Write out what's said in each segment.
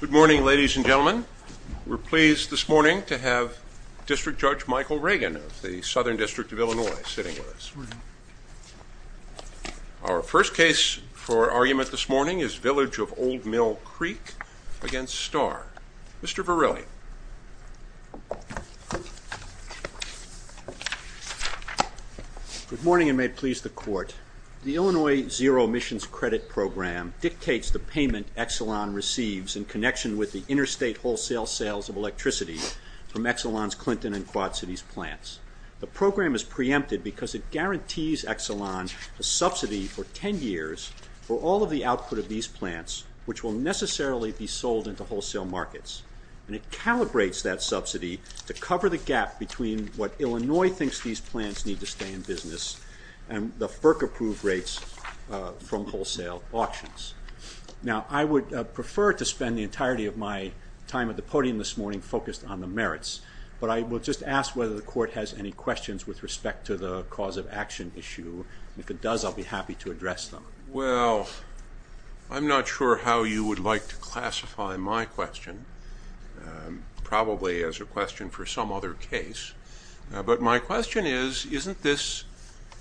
Good morning ladies and gentlemen. We're pleased this morning to have District Judge Michael Reagan of the Southern District of Illinois sitting with us. Our first case for argument this morning is Village of Old Mill Creek against Star. Mr. Verrilli. Good morning and may it please the court. The Illinois Zero Emissions Credit Program dictates the payment Exelon receives in connection with the interstate wholesale sales of electricity from Exelon's Clinton and Quad Cities plants. The program is preempted because it guarantees Exelon a subsidy for 10 years for all of the output of these plants which will necessarily be sold into wholesale markets and it calibrates that subsidy to cover the gap between what Illinois thinks these plants need to stay in wholesale auctions. Now I would prefer to spend the entirety of my time at the podium this morning focused on the merits but I will just ask whether the court has any questions with respect to the cause of action issue. If it does I'll be happy to address them. Well I'm not sure how you would like to classify my question probably as a question for some other case but my question is isn't this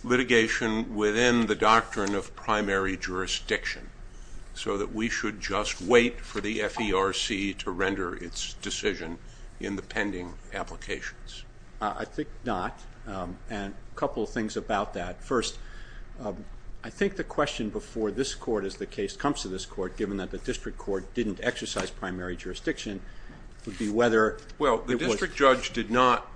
litigation within the doctrine of primary jurisdiction so that we should just wait for the FERC to render its decision in the pending applications? I think not and a couple of things about that. First I think the question before this court as the case comes to this court given that the district court didn't exercise primary jurisdiction would be whether. Well the district judge did not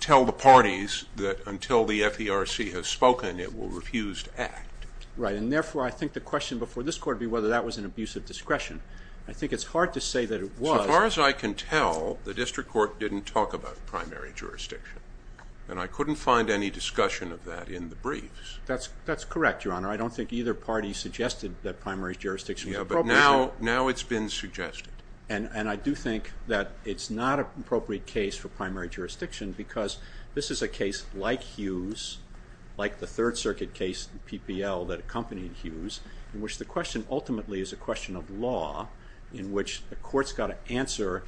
tell the parties that until the FERC has spoken it will refuse to act. Right and therefore I think the question before this court be whether that was an abusive discretion. I think it's hard to say that it was. As far as I can tell the district court didn't talk about primary jurisdiction and I couldn't find any discussion of that in the briefs. That's that's correct your honor I don't think either party suggested that primary jurisdiction. Yeah but now now it's been suggested. And and I do think that it's not an appropriate case for primary jurisdiction because this is a case like Hughes like the Third Circuit case PPL that accompanied Hughes in which the question ultimately is a question of law in which the courts got to answer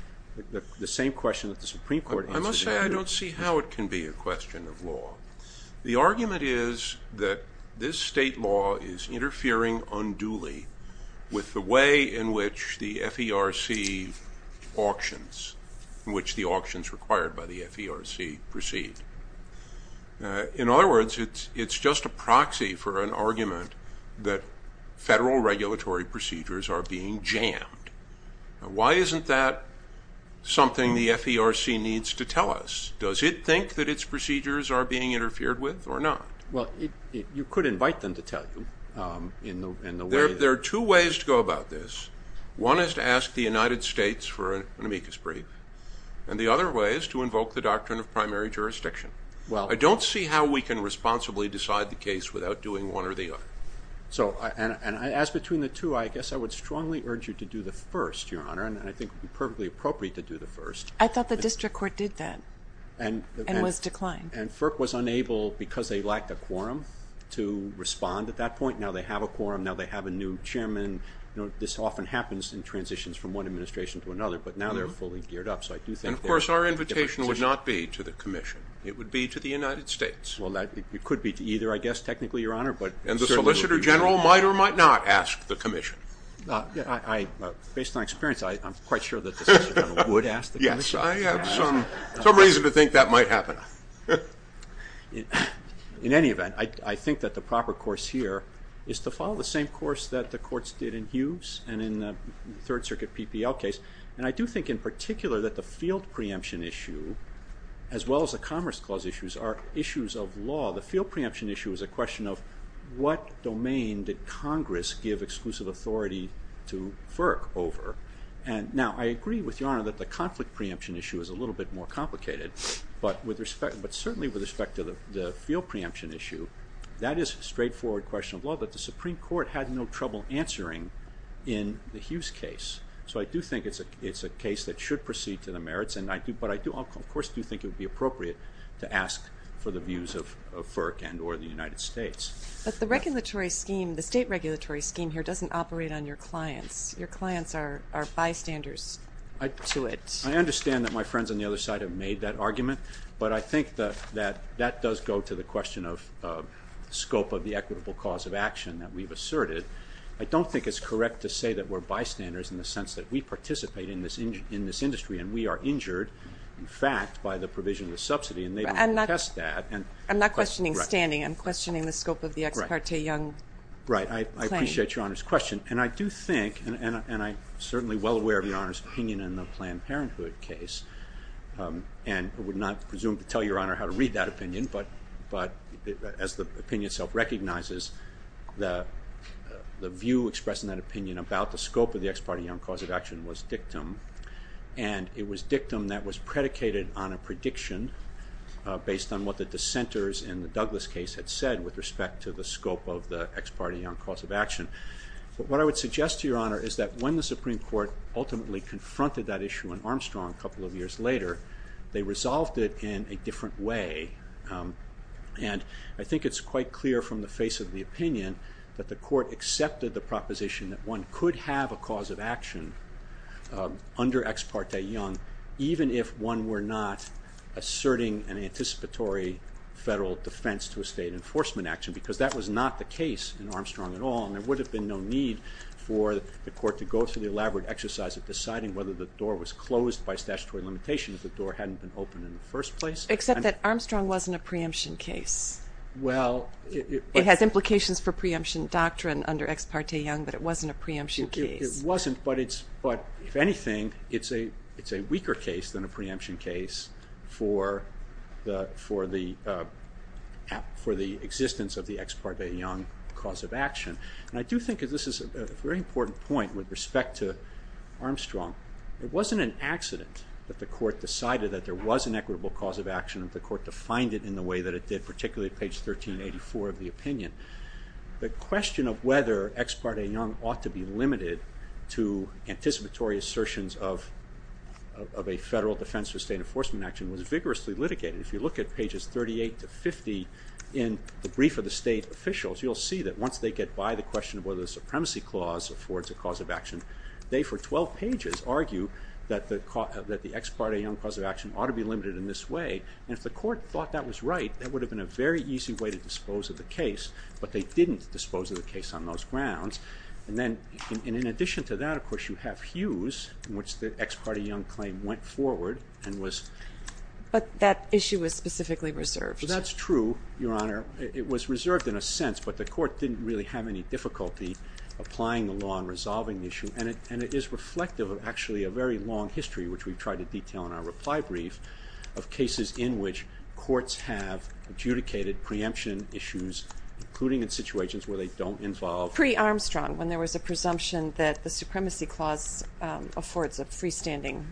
the same question that the Supreme Court. I must say I don't see how it can be a question of law. The argument is that this state law is interfering unduly with the way in which the FERC auctions in which the auctions required by the FERC proceed. In other words it's it's just a proxy for an argument that federal regulatory procedures are being jammed. Why isn't that something the FERC needs to tell us? Does it think that its procedures are being interfered with or not? Well you could invite them to tell you in the way. There are two ways to go about this. One is to ask the United States for an amicus brief and the other way is to invoke the doctrine of primary jurisdiction. Well I don't see how we can responsibly decide the case without doing one or the other. So and and as between the two I guess I would strongly urge you to do the first your honor and I think perfectly appropriate to do the first. I thought the district court did that and and was declined. And FERC was unable because they lacked a quorum to respond at that point now they have a quorum now they have a new chairman you know this often happens in transitions from one administration to another but now they're fully geared up so I do think. And of course our invitation would not be to the Commission it would be to the United States. Well that it could be to either I guess technically your honor but. And the Solicitor General might or might not ask the Commission. Based on experience I'm quite sure that would ask the Commission. Yes I have some reason to think that might happen. In any event I think that the proper course here is to follow the same course that the courts did in Hughes and in the Third Circuit PPL case and I do think in particular that the field preemption issue as well as the Commerce Clause issues are issues of law. The field preemption issue is a question of what domain did Congress give exclusive authority to FERC over. And now I agree with your honor that the conflict preemption issue is a little bit more complicated but with respect but certainly with respect to the field preemption issue that is a little trouble answering in the Hughes case. So I do think it's a it's a case that should proceed to the merits and I do but I do of course do you think it would be appropriate to ask for the views of FERC and or the United States. But the regulatory scheme the state regulatory scheme here doesn't operate on your clients. Your clients are bystanders to it. I understand that my friends on the other side have made that argument but I think that that that does go to the question of scope of the equitable cause of action that we've started. I don't think it's correct to say that we're bystanders in the sense that we participate in this in this industry and we are injured in fact by the provision of the subsidy and they test that. I'm not questioning standing I'm questioning the scope of the ex parte young. Right I appreciate your honor's question and I do think and I certainly well aware of your honor's opinion in the Planned Parenthood case and would not presume to tell your honor how to read that opinion but but as the opinion self recognizes the the view expressed in that opinion about the scope of the ex parte young cause of action was dictum and it was dictum that was predicated on a prediction based on what the dissenters in the Douglas case had said with respect to the scope of the ex parte young cause of action. But what I would suggest to your honor is that when the Supreme Court ultimately confronted that issue in Armstrong a they resolved it in a different way and I think it's quite clear from the face of the opinion that the court accepted the proposition that one could have a cause of action under ex parte young even if one were not asserting an anticipatory federal defense to a state enforcement action because that was not the case in Armstrong at all and there would have been no need for the court to go through the elaborate exercise of deciding whether the door was closed by or hadn't been open in the first place. Except that Armstrong wasn't a preemption case. Well it has implications for preemption doctrine under ex parte young but it wasn't a preemption case. It wasn't but it's but if anything it's a it's a weaker case than a preemption case for the for the for the existence of the ex parte young cause of action. I do think this is a very important point with respect to Armstrong. It wasn't an accident that the court decided that there was an equitable cause of action if the court defined it in the way that it did particularly page 1384 of the opinion. The question of whether ex parte young ought to be limited to anticipatory assertions of of a federal defense for state enforcement action was vigorously litigated. If you look at pages 38 to 50 in the brief of the state officials you'll see that once they get by the question of whether the supremacy clause affords a cause of action they for 12 pages argue that the caught that the ex parte young cause of action ought to be limited in this way and if the court thought that was right that would have been a very easy way to dispose of the case but they didn't dispose of the case on those grounds and then in addition to that of course you have Hughes in which the ex parte young claim went forward and was. But that issue was specifically reserved. That's true your honor it was reserved in a sense but the court didn't really have any difficulty applying the law and resolving the issue and it and it is reflective of actually a very long history which we've tried to detail in our reply brief of cases in which courts have adjudicated preemption issues including in situations where they don't involve. Pre Armstrong when there was a presumption that the supremacy clause affords a freestanding.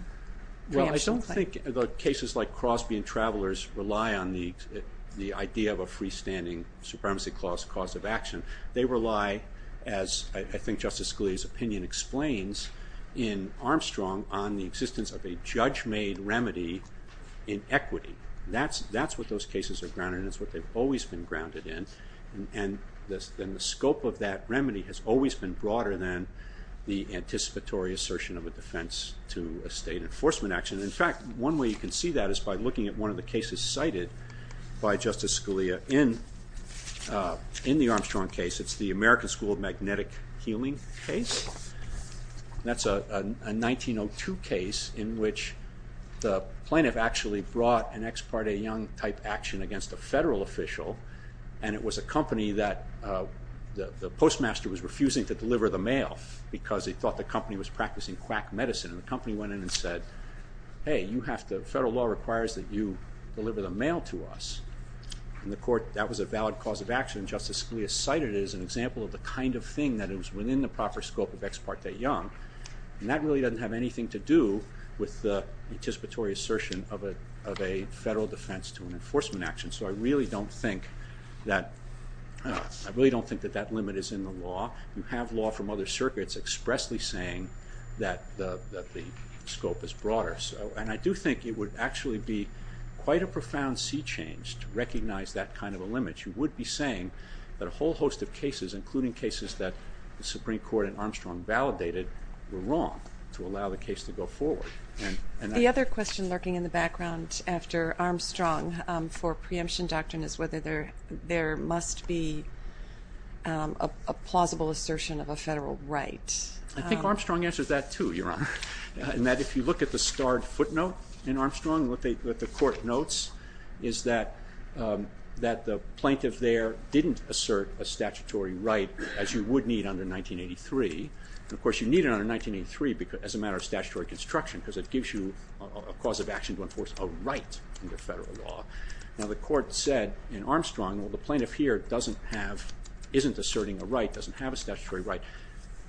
Well I don't think the cases like Crosby and supremacy clause cause of action they rely as I think Justice Scalia's opinion explains in Armstrong on the existence of a judge-made remedy in equity. That's that's what those cases are grounded and it's what they've always been grounded in and this then the scope of that remedy has always been broader than the anticipatory assertion of a defense to a state enforcement action. In fact one way you can see that is by looking at one of the cases cited by Justice Scalia in the Armstrong case it's the American School of Magnetic Healing case. That's a 1902 case in which the plaintiff actually brought an ex parte young type action against a federal official and it was a company that the postmaster was refusing to deliver the mail because he thought the company was practicing quack medicine and the company went in and said hey you have to federal law requires that you deliver the mail to us. In the court that was a valid cause of action Justice Scalia cited it as an example of the kind of thing that it was within the proper scope of ex parte young and that really doesn't have anything to do with the anticipatory assertion of a of a federal defense to an enforcement action so I really don't think that I really don't think that that limit is in the law. You have law from other circuits expressly saying that the scope is broader so and I do think it would actually be quite a profound sea change to recognize that kind of a limit. You would be saying that a whole host of cases including cases that the Supreme Court and Armstrong validated were wrong to allow the case to go forward. The other question lurking in the background after Armstrong for preemption doctrine is whether there there must be a plausible assertion of a federal right. I think answers that too your honor and that if you look at the starred footnote in Armstrong what they what the court notes is that that the plaintiff there didn't assert a statutory right as you would need under 1983 and of course you need it under 1983 because as a matter of statutory construction because it gives you a cause of action to enforce a right under federal law. Now the court said in Armstrong well the plaintiff here doesn't have isn't asserting a right doesn't have a statutory right.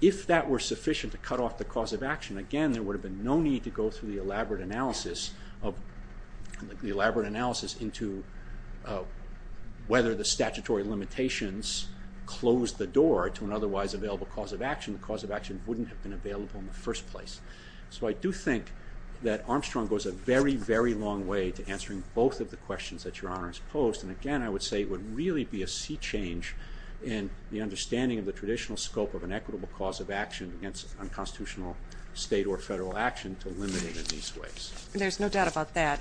If that were sufficient to cut off the cause of action again there would have been no need to go through the elaborate analysis of the elaborate analysis into whether the statutory limitations closed the door to an otherwise available cause of action. The cause of action wouldn't have been available in the first place. So I do think that Armstrong goes a very very long way to answering both of the questions that your honors posed and again I would say it would really be a sea change in the understanding of the traditional scope of an equitable cause of action against unconstitutional state or federal action to limit it in these ways. There's no doubt about that.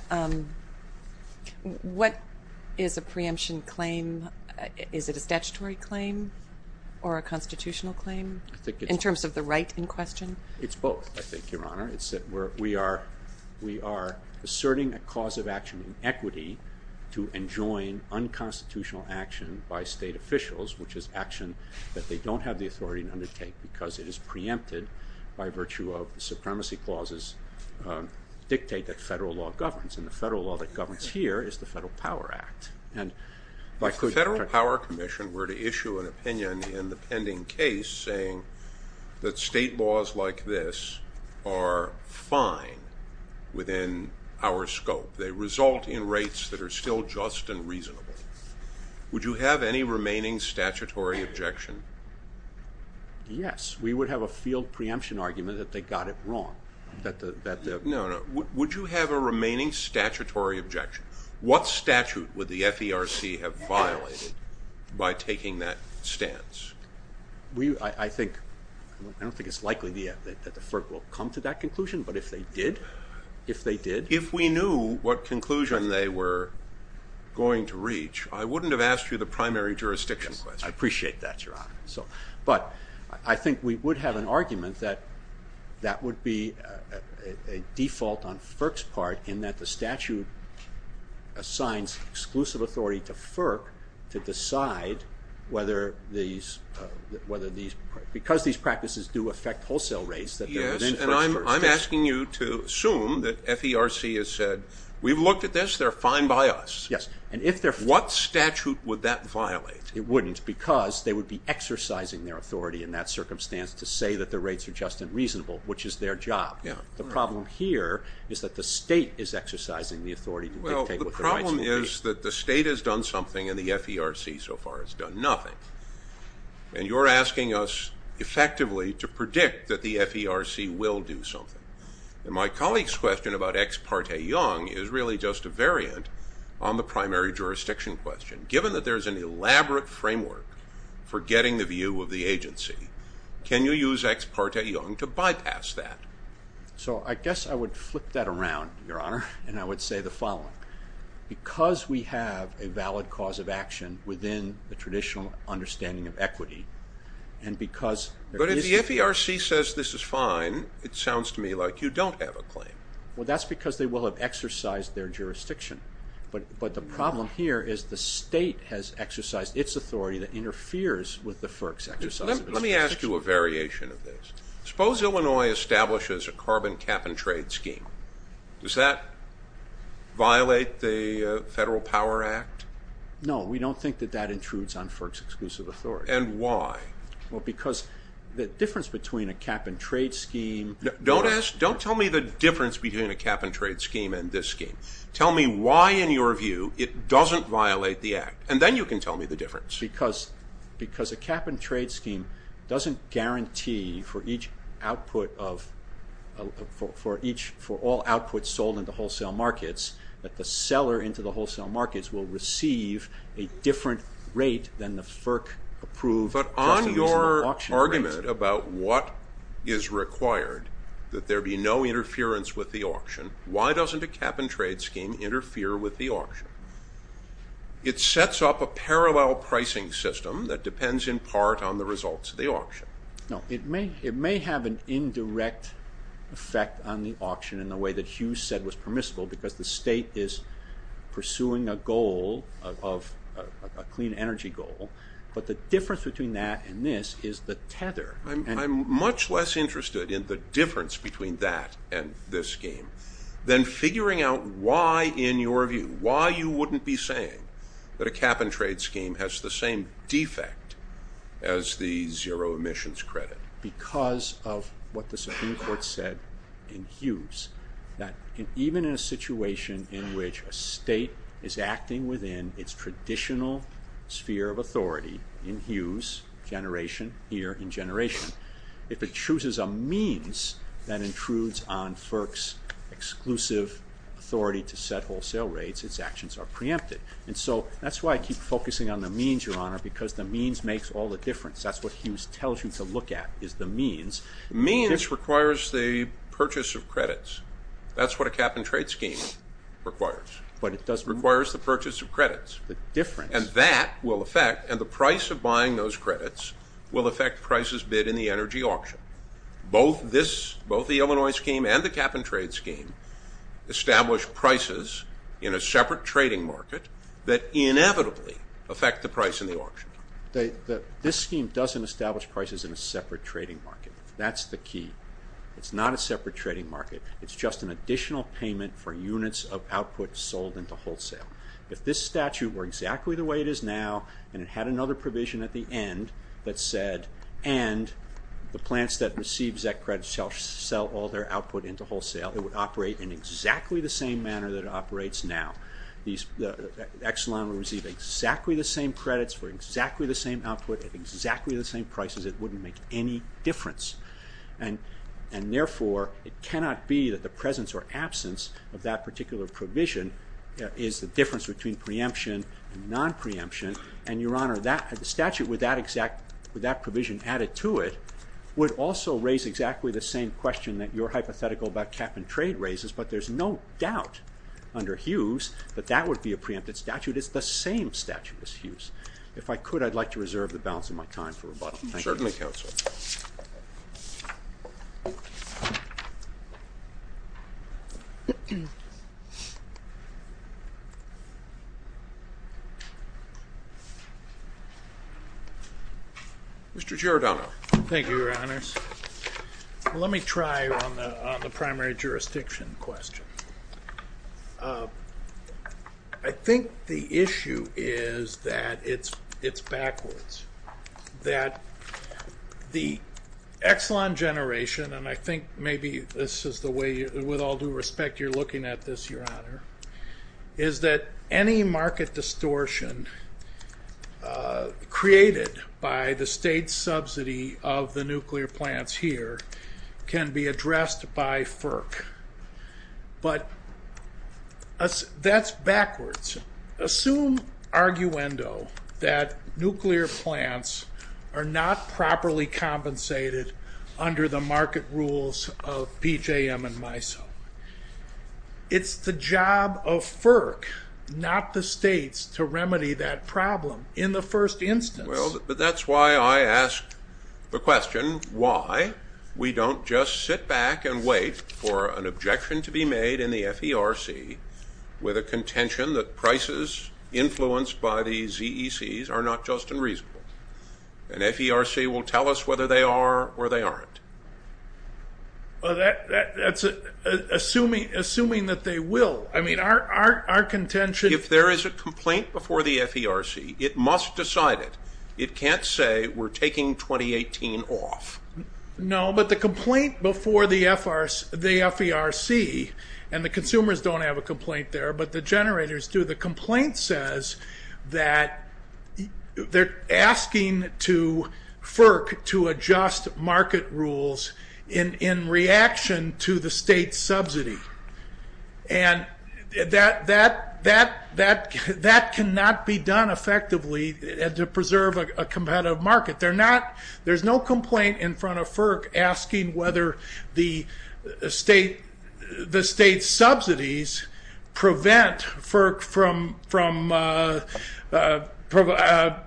What is a preemption claim? Is it a statutory claim or a constitutional claim? I think in terms of the right in question? It's both I think your honor. It's that where we are we are asserting a cause of action in equity to enjoin unconstitutional action by state officials which is action that they don't have the authority to undertake because it is preempted by virtue of the supremacy clauses dictate that federal law governs and the federal law that governs here is the Federal Power Act. If the Federal Power Commission were to issue an within our scope they result in rates that are still just and reasonable. Would you have any remaining statutory objection? Yes we would have a field preemption argument that they got it wrong. No no would you have a remaining statutory objection? What statute would the FERC have violated by taking that stance? I think I don't think it's likely that the FERC will come to that conclusion but if they did if they did. If we knew what conclusion they were going to reach I wouldn't have asked you the primary jurisdiction question. I appreciate that your honor. So but I think we would have an argument that that would be a default on FERC's part in that the statute assigns exclusive authority to FERC to decide whether these whether these because these practices do affect wholesale rates. Yes and I'm asking you to assume that FERC has said we've looked at this they're fine by us. Yes and if they're what statute would that violate? It wouldn't because they would be exercising their authority in that circumstance to say that the rates are just and reasonable which is their job. Yeah. The problem here is that the state is exercising the authority. Well the problem is that the state has done something and the FERC so far has done nothing and you're asking us effectively to predict that the FERC will do something. My colleague's question about ex parte young is really just a variant on the primary jurisdiction question. Given that there's an elaborate framework for getting the view of the agency can you use ex parte young to bypass that? So I guess I would flip that cause of action within the traditional understanding of equity and because but if the FERC says this is fine it sounds to me like you don't have a claim. Well that's because they will have exercised their jurisdiction but but the problem here is the state has exercised its authority that interferes with the FERC's exercise. Let me ask you a variation of this. Suppose Illinois establishes a carbon cap-and-trade scheme. Does that violate the Federal Power Act? No we don't think that that intrudes on FERC's exclusive authority. And why? Well because the difference between a cap-and-trade scheme. Don't ask, don't tell me the difference between a cap-and-trade scheme and this scheme. Tell me why in your view it doesn't violate the act and then you can tell me the difference. Because because a cap-and-trade scheme doesn't guarantee for each output of for each for all outputs sold in the wholesale markets that the seller into the wholesale markets will receive a different rate than the FERC approved. But on your argument about what is required that there be no interference with the auction, why doesn't a cap-and-trade scheme interfere with the auction? It sets up a parallel pricing system that depends in part on the results of the auction. No it may it may have an indirect effect on the auction in the way that Hugh said was permissible because the state is pursuing a goal of a clean energy goal but the difference between that and this is the tether. I'm much less interested in the difference between that and this scheme then figuring out why in your view why you wouldn't be saying that a cap-and-trade scheme has the same defect as the zero emissions credit. Because of what the Supreme Court said in Hughes that even in a situation in which a state is acting within its traditional sphere of authority in Hughes generation here in generation if it chooses a means that intrudes on FERC's exclusive authority to set wholesale rates its actions are preempted and so that's why I keep focusing on the means your honor because the means makes all the difference that's what Hughes tells you to look at is the means. Means requires the purchase of credits that's what a cap-and-trade scheme requires but it doesn't requires the purchase of credits. The difference. And that will affect and the price of buying those credits will affect prices bid in the energy auction. Both this both the Illinois scheme and the cap-and-trade scheme establish prices in a separate trading market that inevitably affect the price in the auction. This scheme doesn't establish prices in a separate trading market that's the key it's not a separate trading market it's just an additional payment for units of output sold into wholesale. If this statute were exactly the way it is now and it had another provision at the end that said and the plants that receives that credit shall sell all their output into wholesale it would operate in exactly the same manner that it operates now. The Exelon will receive exactly the same credits for exactly the same output at exactly the same prices it wouldn't make any difference. And therefore it cannot be that the presence or absence of that particular provision is the difference between preemption and non-preemption and your honor that statute with that exact with that provision added to it would also raise exactly the same question that your hypothetical about cap-and- trade raises but there's no doubt under Hughes that that would be a preempted statute it's the same statute as Hughes. If I could I'd like to reserve the Mr. Giordano. Thank you your honors. Let me try on the primary jurisdiction question. I think the issue is that it's it's backwards that the Exelon generation and I think maybe this is the way with all due respect you're looking at this your honor is that any market distortion created by the state subsidy of the nuclear plants here can be addressed by FERC but that's backwards. Assume arguendo that nuclear plants are not properly compensated under the market rules of PJM and MISO. It's the job of FERC not the states to remedy that problem in the first instance. Well but that's why I asked the question why we don't just sit back and wait for an objection to be made in the FERC with a contention that prices influenced by the ZECs are not just unreasonable and FERC will tell us whether they are or they aren't. Well that that's a assuming assuming that they will I mean our our contention. If there is a complaint before the FERC it must decide it. It can't say we're taking 2018 off. No but the complaint before the FRC and the consumers don't have a complaint there but the generators do. The complaint says that they're asking to FERC to adjust market rules in in reaction to the state subsidy and that that that that cannot be done effectively and to preserve a competitive market. They're not there's no complaint in front of FERC asking whether the state the state subsidies prevent FERC from from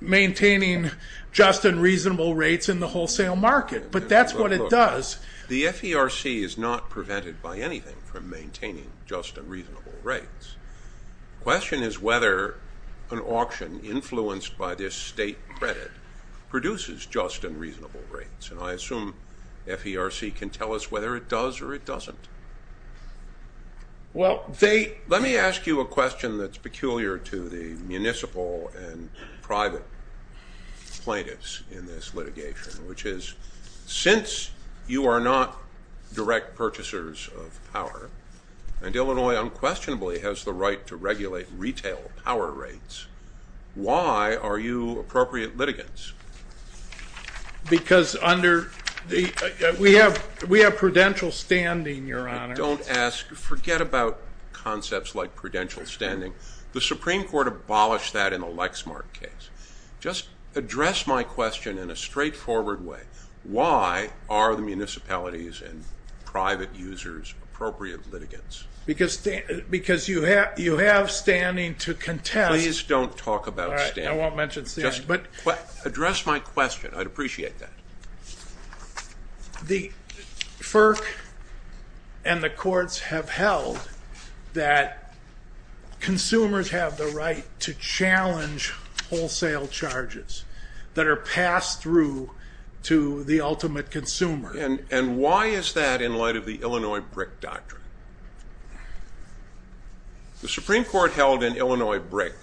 maintaining just and reasonable rates in the wholesale market but that's what it does. The FERC is not prevented by anything from maintaining just and reasonable rates. Question is whether an auction influenced by this state credit produces just and reasonable rates and I assume FERC can tell us whether it does or it doesn't. Well they let me ask you a question that's peculiar to the municipal and private plaintiffs in this litigation which is since you are not direct purchasers of power and Illinois unquestionably has the right to regulate retail power rates why are you appropriate litigants? Because under the we have we have prudential standing your honor. Don't ask forget about concepts like prudential standing. The Supreme Court abolished that in a Lexmark case. Just address my question in a straightforward way. Why are the municipalities and private users appropriate litigants? Because because you have you have standing to contest. Please don't talk about standing. I won't mention standing. But address my question I'd appreciate that. The FERC and the courts have held that consumers have the right to challenge wholesale charges that are passed through to the ultimate consumer. And and why is that in light of the Illinois brick doctrine? The Supreme Court held in Illinois brick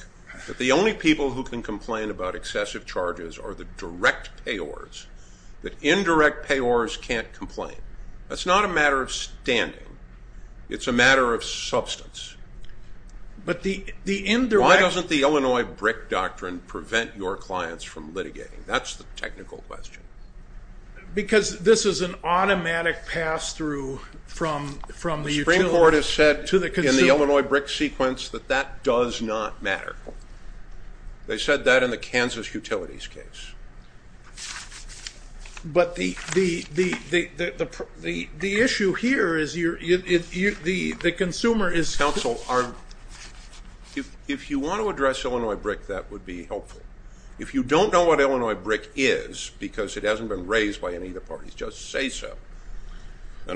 that the only people who can complain about excessive charges are the direct payors. That indirect payors can't complain. That's not a matter of standing. It's a matter of substance. But the indirect. Why doesn't the Illinois brick doctrine prevent your clients from litigating? That's the technical question. Because this is an automatic pass-through from from the Supreme Court has said to the Illinois brick sequence that that does not matter. They said that in the Kansas Utilities case. But the the the the issue here is you're you the the consumer is counsel are if you want to address Illinois brick that would be helpful. If you don't know what Illinois brick is because it hasn't been raised by any of the parties just say so. I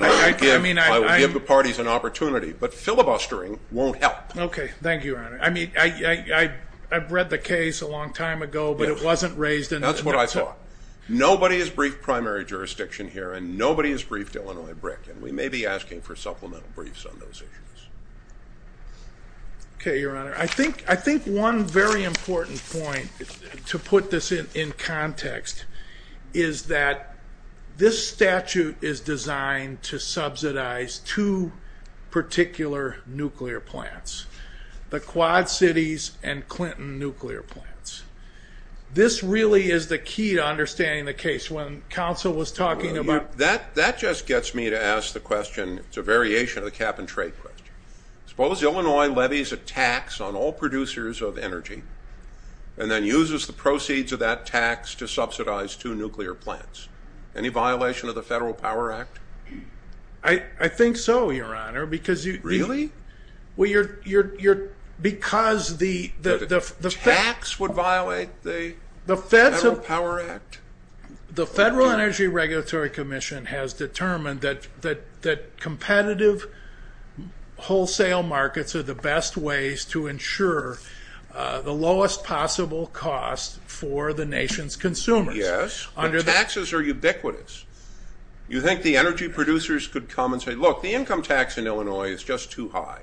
mean I give the parties an opportunity but filibustering won't help. Okay thank you. I mean I I've read the case a long time ago but it wasn't raised. That's what I thought. Nobody has briefed primary jurisdiction here and nobody has briefed Illinois brick and we may be asking for Okay your honor. I think I think one very important point to put this in context is that this statute is designed to subsidize two particular nuclear plants. The Quad Cities and Clinton nuclear plants. This really is the key to understanding the case. When counsel was talking about. That that just gets me to ask the question. It's a variation of the cap-and-trade question. Suppose Illinois levies a tax on all producers of energy and then uses the proceeds of that tax to subsidize two nuclear plants. Any violation of the Federal Power Act? I think so your honor because you. Really? Well you're you're you're because the the tax would violate the Federal Power Act? The Federal Energy Regulatory Commission has determined that that that competitive wholesale markets are the best ways to ensure the lowest possible cost for the nation's consumers. Yes, but taxes are ubiquitous. You think the energy producers could come and say look the income tax in Illinois is just too high.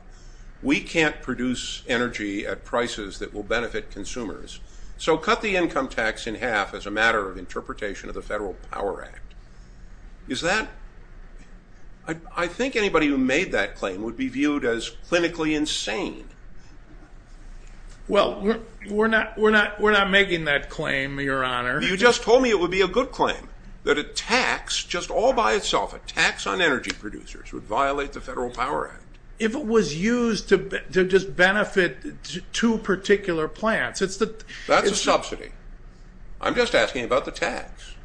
We can't produce energy at prices that will benefit consumers. So cut the income tax in half as a matter of interpretation of the Federal Power Act. Is that I think anybody who made that claim would be viewed as clinically insane. Well we're not we're not we're not making that claim your honor. You just told me it would be a good claim that a tax just all by itself a tax on energy producers would violate the Federal Power Act. If it was used to just benefit two particular plants. That's a subsidy. I'm just asking about the tax.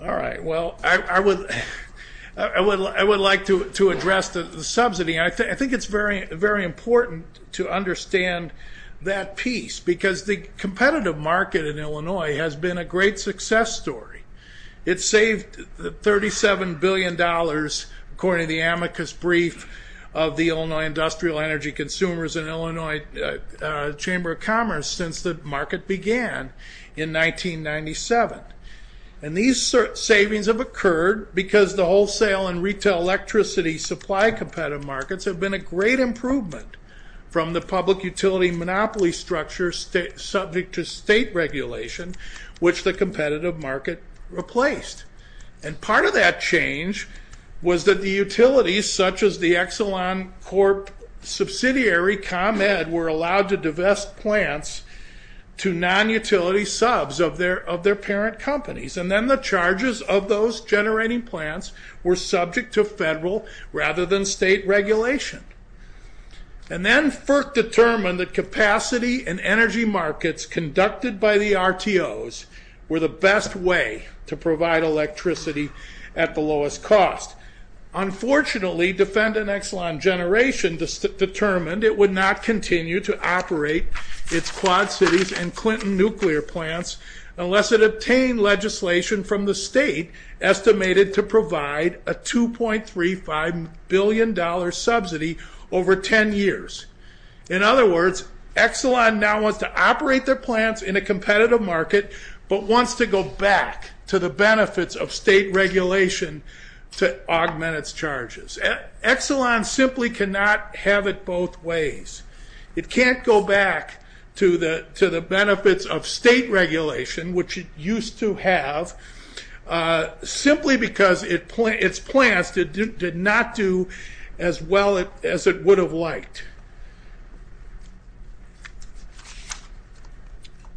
All right well I would I would like to address the subsidy. I think it's very very important to understand that piece because the competitive market in Illinois has been a great success story. It saved the 37 billion dollars according to the amicus brief of the Illinois Industrial Energy Consumers in Illinois Chamber of Commerce since the market began in 1997. And these savings have occurred because the wholesale and retail electricity supply competitive markets have been a great improvement from the public utility monopoly structure state subject to state regulation which the competitive market replaced. And part of that change was that the utilities such as the Exelon Corp subsidiary ComEd were allowed to divest plants to non-utility subs of their of their parent companies. And then the charges of those generating plants were subject to federal rather than state regulation. And then FERC determined that capacity and energy markets conducted by the RTOs were the best way to provide electricity at the lowest cost. Unfortunately Defendant Exelon Generation determined it would not continue to operate its Quad Cities and Clinton nuclear plants unless it obtained legislation from the state estimated to provide a 2.35 billion dollar subsidy over 10 years. In other words Exelon now wants to operate their plants in a competitive market but wants to go back to the benefits of state regulation to augment its charges. Exelon simply cannot have it both ways. It can't go back to the to the benefits of state regulation which it used to have simply because its plants did not do as well as it would have liked.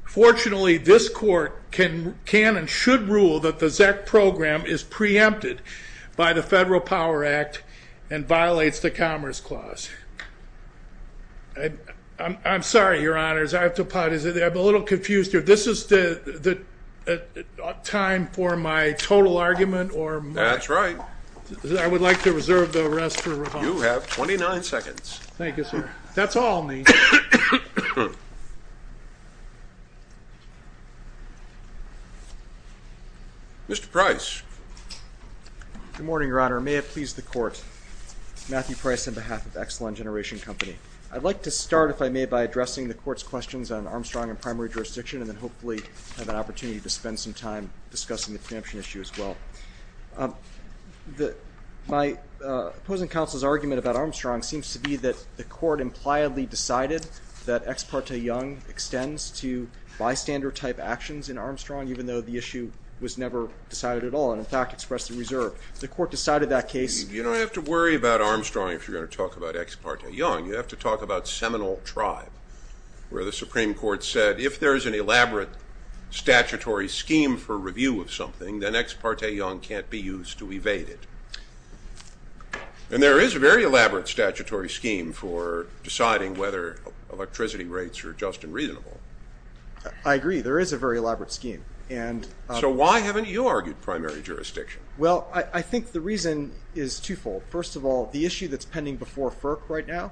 Fortunately this court can and should rule that the ZEC program is preempted by the Federal Power Act and violates the Commerce Clause. I'm sorry your honors I have to apologize. I'm a little confused here. This is the time for my total argument or? That's right. I would like to reserve the rest for rebuttal. You have 29 seconds. Thank you sir. That's all I need. Mr. Price. Good morning your honor. May it please the court. Matthew Price on behalf of Exelon Generation Company. I'd like to start if I may by addressing the court's questions on Armstrong and primary jurisdiction and then hopefully have an opportunity to spend some time discussing the preemption issue as well. My opposing counsel's argument about Armstrong seems to be that the court impliedly decided that Ex parte Young extends to bystander type actions in Armstrong even though the issue was never decided at all and in fact expressed the reserve. The court decided that case. You don't have to worry about Armstrong if you're going to talk about Ex parte Young. You have to talk about Seminole Tribe where the Supreme Court said if there is an elaborate statutory scheme for review of something then Ex parte Young can't be used to evade it. And there is a very elaborate statutory scheme for deciding whether electricity rates are just and reasonable. I agree there is a very elaborate scheme. So why haven't you argued primary jurisdiction? Well I think the reason is twofold. First of all the issue that's pending before FERC right now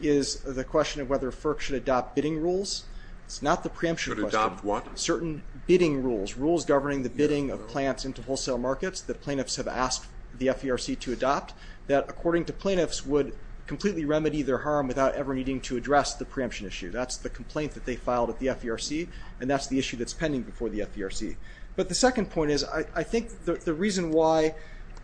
is the question of whether FERC should adopt bidding rules. It's not the preemption question. Certain bidding rules. Rules governing the bidding of plants into the FERC to adopt that according to plaintiffs would completely remedy their harm without ever needing to address the preemption issue. That's the complaint that they filed at the FERC and that's the issue that's pending before the FERC. But the second point is I think the reason why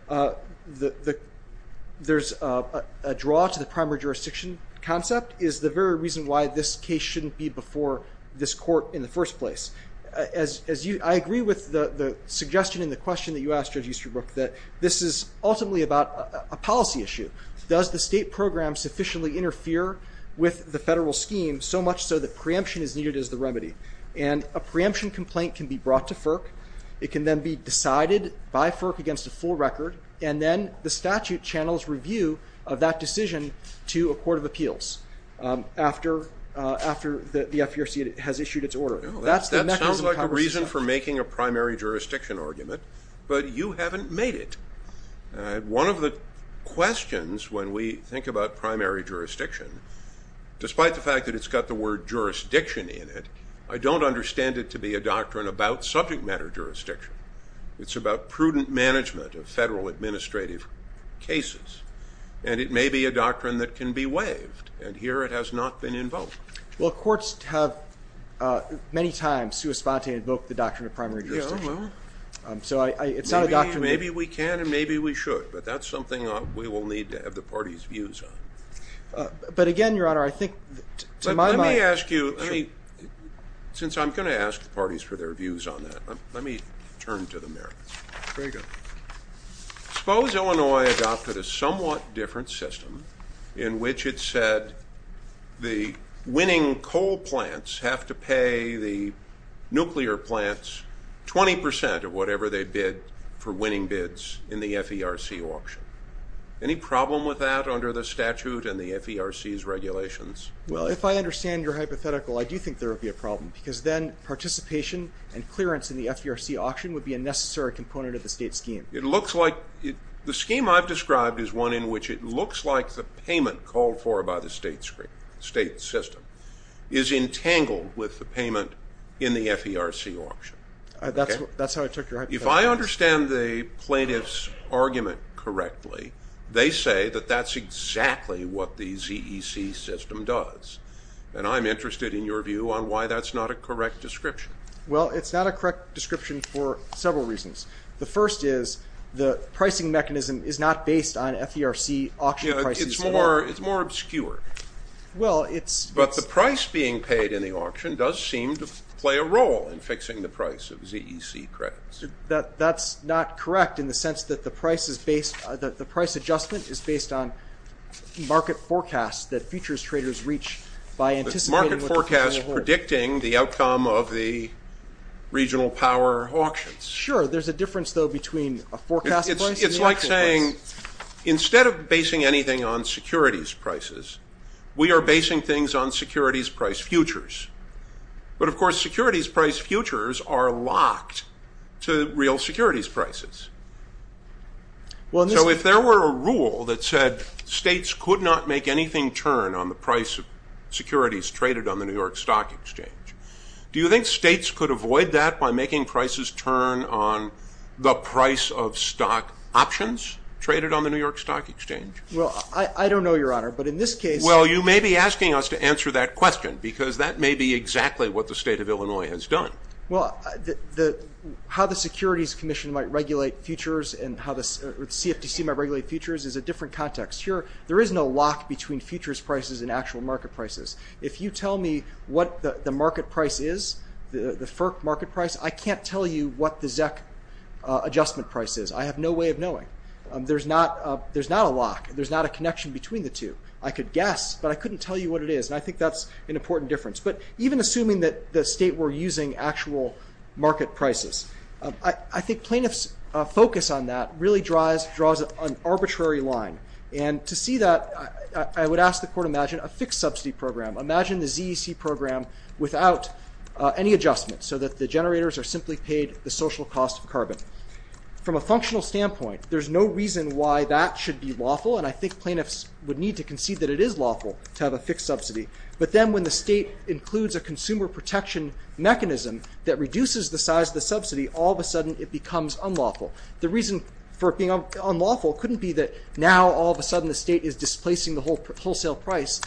there's a draw to the primary jurisdiction concept is the very reason why this case shouldn't be before this court in the first place. I agree with the suggestion in the ultimately about a policy issue. Does the state program sufficiently interfere with the federal scheme so much so that preemption is needed as the remedy? And a preemption complaint can be brought to FERC. It can then be decided by FERC against a full record and then the statute channels review of that decision to a court of appeals after the FERC has issued its order. That's the mechanism. That sounds like a reason for making a primary jurisdiction argument but you haven't made it. One of the questions when we think about primary jurisdiction, despite the fact that it's got the word jurisdiction in it, I don't understand it to be a doctrine about subject matter jurisdiction. It's about prudent management of federal administrative cases and it may be a doctrine that can be waived and here it has not been invoked. Well courts have many times to spontaneously invoke the doctrine of primary jurisdiction. Maybe we can and maybe we should but that's something we will need to have the party's views on. But again your honor I think to my mind... Let me ask you, since I'm going to ask the parties for their views on that, let me turn to the merits. Suppose Illinois adopted a somewhat different system in which it said the winning coal plants have to pay the nuclear plants 20% of whatever they bid for winning bids in the FERC auction. Any problem with that under the statute and the FERC's regulations? Well if I understand your hypothetical I do think there would be a problem because then participation and clearance in the FERC auction would be a necessary component of the state scheme. It looks like, the scheme I've described is one in which it looks like the payment called for by the state system is entangled with the payment in the FERC auction. That's how I took your hypothetical. If I understand the plaintiff's argument correctly they say that that's exactly what the ZEC system does and I'm interested in your view on why that's not a correct description. Well it's not a correct description for several reasons. The first is the pricing mechanism is not based on FERC auction prices. It's more obscure. But the price being paid in the auction does seem to play a role in fixing the price of ZEC credits. That's not correct in the sense that the price is based, that the price adjustment is based on market forecasts that futures traders reach by anticipating. Market forecasts predicting the outcome of the regional power auctions. Sure there's a difference though between a forecast price and an auction price. It's like saying instead of basing anything on securities prices we are basing things on securities price futures. But of course securities price futures are locked to real securities prices. So if there were a rule that said states could not make anything turn on the price of securities traded on the New York Stock Exchange, do you think states could avoid that by making prices turn on the price of stock options traded on the New York Stock Exchange? Well I don't know your honor but in this case... Well you may be asking us to answer that question because that may be exactly what the state of Illinois has done. Well how the Securities Commission might regulate futures and how the CFTC might regulate futures is a different context. Here there is no lock between futures prices and actual market prices. If you tell me what the market price is, the FERC market price, I can't tell you what the ZEC adjustment price is. I have no way of knowing. There's not a lock. There's not a connection between the two. I could guess but I couldn't tell you what it is. I think that's an important difference. But even assuming that the state were using actual market prices, I think plaintiffs focus on that really draws an arbitrary line. And to see that I would ask the without any adjustment so that the generators are simply paid the social cost of carbon. From a functional standpoint, there's no reason why that should be lawful and I think plaintiffs would need to concede that it is lawful to have a fixed subsidy. But then when the state includes a consumer protection mechanism that reduces the size of the subsidy, all of a sudden it becomes unlawful. The reason for being unlawful couldn't be that now all of a sudden the state is displacing the wholesale price.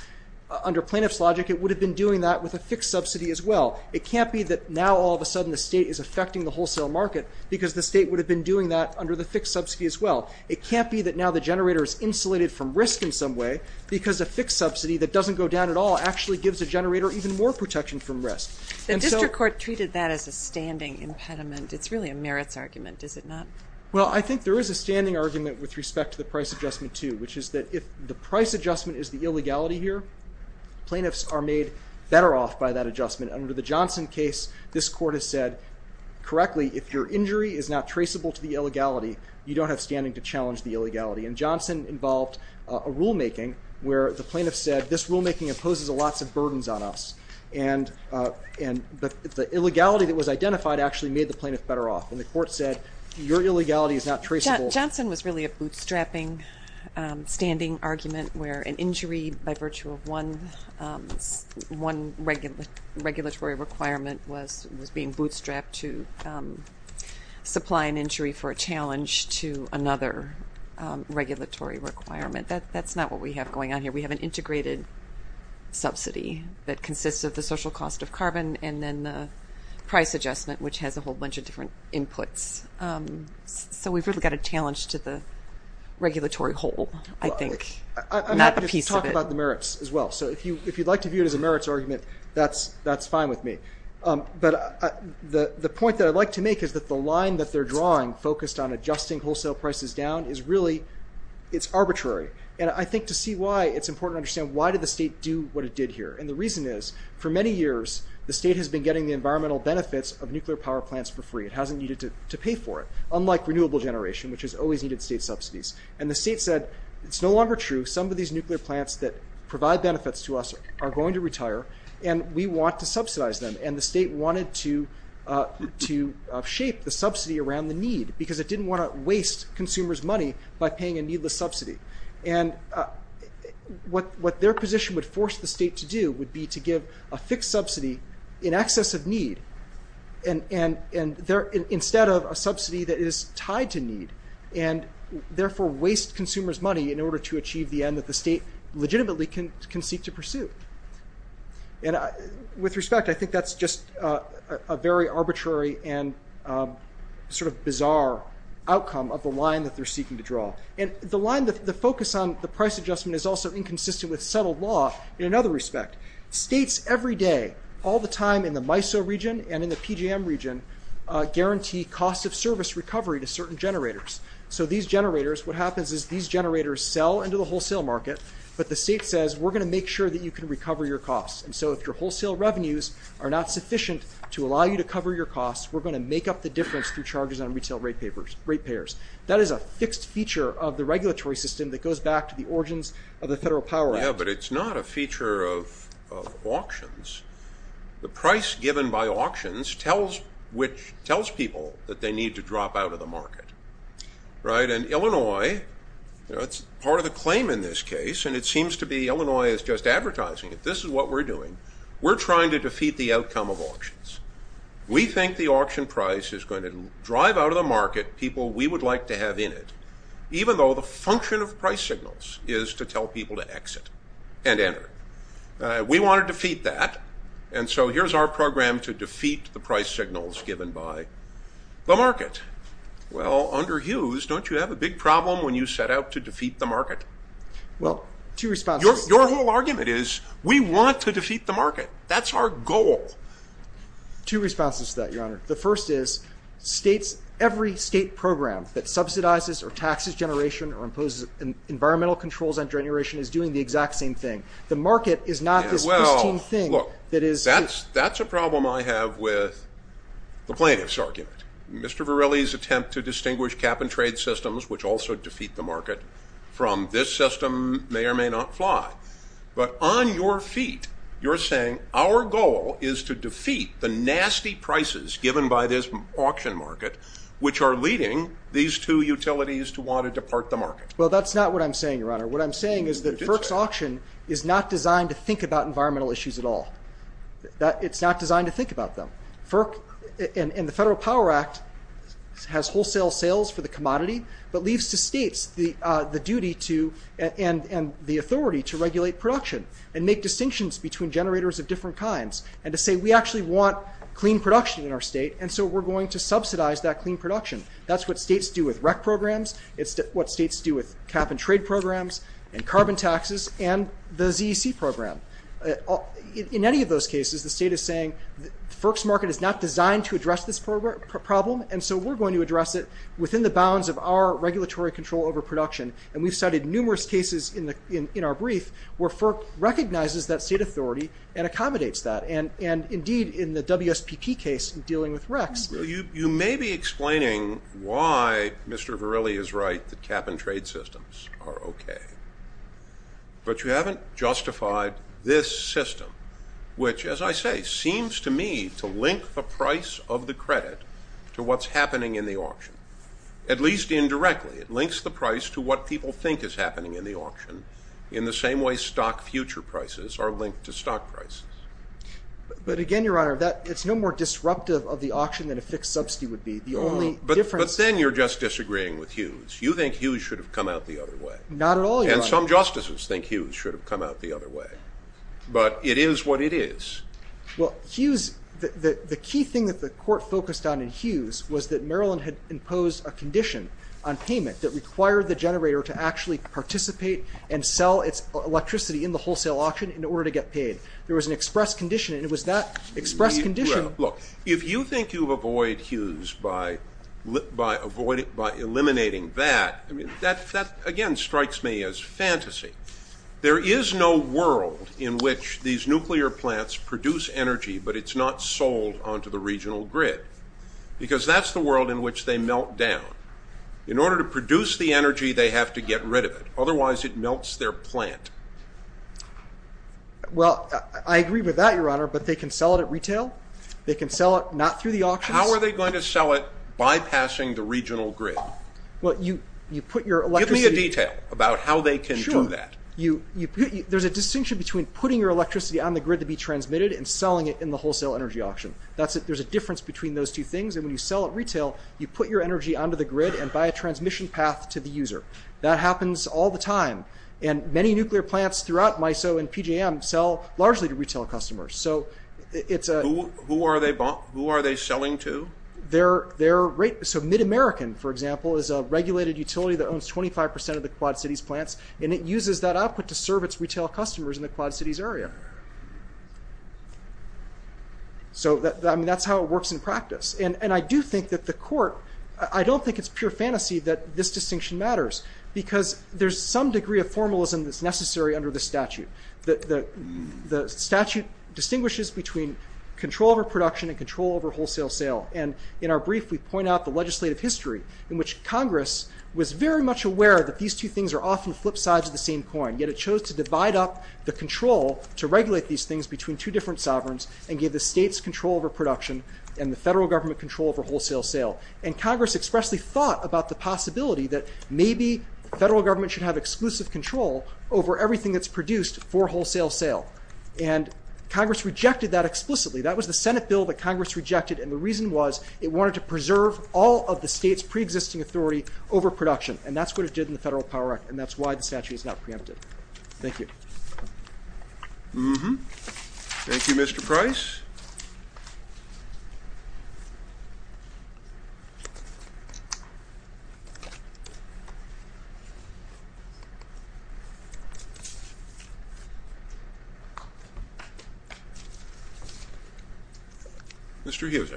Under plaintiffs logic it would have been doing that with a fixed subsidy as well. It can't be that now all of a sudden the state is affecting the wholesale market because the state would have been doing that under the fixed subsidy as well. It can't be that now the generator is insulated from risk in some way because a fixed subsidy that doesn't go down at all actually gives a generator even more protection from risk. The district court treated that as a standing impediment. It's really a merits argument, is it not? Well I think there is a standing argument with respect to the price adjustment too, which is that if the price adjustment is the illegality here, plaintiffs are made better off by that adjustment. Under the Johnson case, this court has said correctly if your injury is not traceable to the illegality, you don't have standing to challenge the illegality. And Johnson involved a rulemaking where the plaintiff said this rulemaking imposes lots of burdens on us. But the illegality that was identified actually made the plaintiff better off. And the court said your illegality is not traceable. Johnson was really a bootstrapping standing argument where an injury by virtue of one regulatory requirement was being bootstrapped to supply an injury for a challenge to another regulatory requirement. That's not what we have going on here. We have an integrated subsidy that consists of the social cost of carbon and then the price adjustment which has a whole bunch of different inputs. So we've really got a challenge to the regulatory hole, I think. I'm happy to talk about the merits as well. So if you'd like to view it as a merits argument, that's fine with me. But the point that I'd like to make is that the line that they're drawing focused on adjusting wholesale prices down is really, it's arbitrary. And I think to see why it's important to understand why did the state do what it did here. And the reason is, for many years the state has been getting the environmental benefits of nuclear power plants for free. It hasn't needed to pay for it, unlike renewable generation which has always needed state subsidies. And the state said it's no longer true. Some of these nuclear plants that provide benefits to us are going to retire and we want to subsidize them. And the state wanted to shape the subsidy around the need because it didn't want to waste consumers money by paying a needless subsidy. And what their position would force the state to do would be to give a fixed subsidy in excess of need, instead of a subsidy that is tied to need, and therefore waste consumers money in order to achieve the end that the state legitimately can seek to pursue. And with respect, I think that's just a very arbitrary and sort of bizarre outcome of the line that they're seeking to draw. And the line, the focus on the price adjustment is also that states every day, all the time in the MISO region and in the PGM region, guarantee cost of service recovery to certain generators. So these generators, what happens is these generators sell into the wholesale market, but the state says we're going to make sure that you can recover your costs. And so if your wholesale revenues are not sufficient to allow you to cover your costs, we're going to make up the difference through charges on retail rate payers. That is a fixed feature of the regulatory system that goes back to the origins of the auctions. The price given by auctions tells people that they need to drop out of the market. Right? And Illinois, that's part of the claim in this case, and it seems to be Illinois is just advertising it. This is what we're doing. We're trying to defeat the outcome of auctions. We think the auction price is going to drive out of the market people we would like to have in it, even though the function of price signals is to tell people to exit and enter. We want to defeat that, and so here's our program to defeat the price signals given by the market. Well, under Hughes, don't you have a big problem when you set out to defeat the market? Well, two responses. Your whole argument is we want to defeat the market. That's our goal. Two responses to that, Your Honor. The first is states, every state program that subsidizes or taxes generation or imposes environmental controls on generation is doing the exact same thing. The market is not this pristine thing. Well, look, that's a problem I have with the plaintiff's argument. Mr. Varelli's attempt to distinguish cap-and-trade systems, which also defeat the market, from this system may or may not fly. But on your feet, you're saying our goal is to defeat the nasty prices given by this auction market, which are leading these two utilities to want to depart the market. Well, that's not what I'm saying, Your Honor. What I'm saying is that FERC's auction is not designed to think about environmental issues at all. It's not designed to think about them. FERC and the Federal Power Act has wholesale sales for the commodity, but leaves to states the duty to and the authority to regulate production and make distinctions between generators of different kinds and to say we actually want clean production in our state and so we're going to subsidize that clean production. That's what states do with and the ZEC program. In any of those cases, the state is saying the FERC's market is not designed to address this problem, and so we're going to address it within the bounds of our regulatory control over production. And we've cited numerous cases in our brief where FERC recognizes that state authority and accommodates that. And indeed, in the WSPP case in dealing with RECs. You may be explaining why Mr. Varelli is right that cap-and- You haven't justified this system, which, as I say, seems to me to link the price of the credit to what's happening in the auction. At least indirectly, it links the price to what people think is happening in the auction in the same way stock future prices are linked to stock prices. But again, Your Honor, that it's no more disruptive of the auction than a fixed subsidy would be. But then you're just disagreeing with Hughes. You think Hughes should have come out the other way. Not at all, Your Honor. And some justices think Hughes should have come out the other way. But it is what it is. Well, Hughes, the key thing that the court focused on in Hughes was that Maryland had imposed a condition on payment that required the generator to actually participate and sell its electricity in the wholesale auction in order to get paid. There was an express condition, and it was that express condition- Look, if you think you avoid Hughes by eliminating that, I mean, that again strikes me as fantasy. There is no world in which these nuclear plants produce energy, but it's not sold onto the regional grid. Because that's the world in which they melt down. In order to produce the energy, they have to get rid of it. Otherwise, it melts their plant. Well, I agree with that, Your Honor, but they can sell it at retail. They can sell it not through the auctions. How are they going to sell it bypassing the regional grid? Well, you put your electricity- Give me a detail about how they can do that. Sure. There's a distinction between putting your electricity on the grid to be transmitted and selling it in the wholesale energy auction. There's a difference between those two things, and when you sell at retail, you put your energy onto the grid and buy a transmission path to the user. That happens all the time, and many nuclear plants throughout MISO and PJM sell largely to retail customers. Who are they selling to? So MidAmerican, for example, is a regulated utility that owns 25% of the Quad Cities plants, and it uses that output to serve its retail customers in the Quad Cities area. So that's how it works in practice, and I do think that the court- I don't think it's pure fantasy that this distinction matters, because there's some degree of formalism that's necessary under the statute. The statute distinguishes between control over production and control over wholesale sale, and in our brief, we point out the legislative history in which Congress was very much aware that these two things are often flip sides of the same coin, yet it chose to divide up the control to regulate these things between two different sovereigns and give the states control over production and the federal government control over wholesale sale. And Congress expressly thought about the possibility that maybe the federal government should have exclusive control over everything that's produced for them, and Congress rejected that explicitly. That was the Senate bill that Congress rejected, and the reason was it wanted to preserve all of the state's pre-existing authority over production, and that's what it did in the Federal Power Act, and that's why the statute is not preempted. Thank you. Thank you, Mr. Price. Mr. Hughes.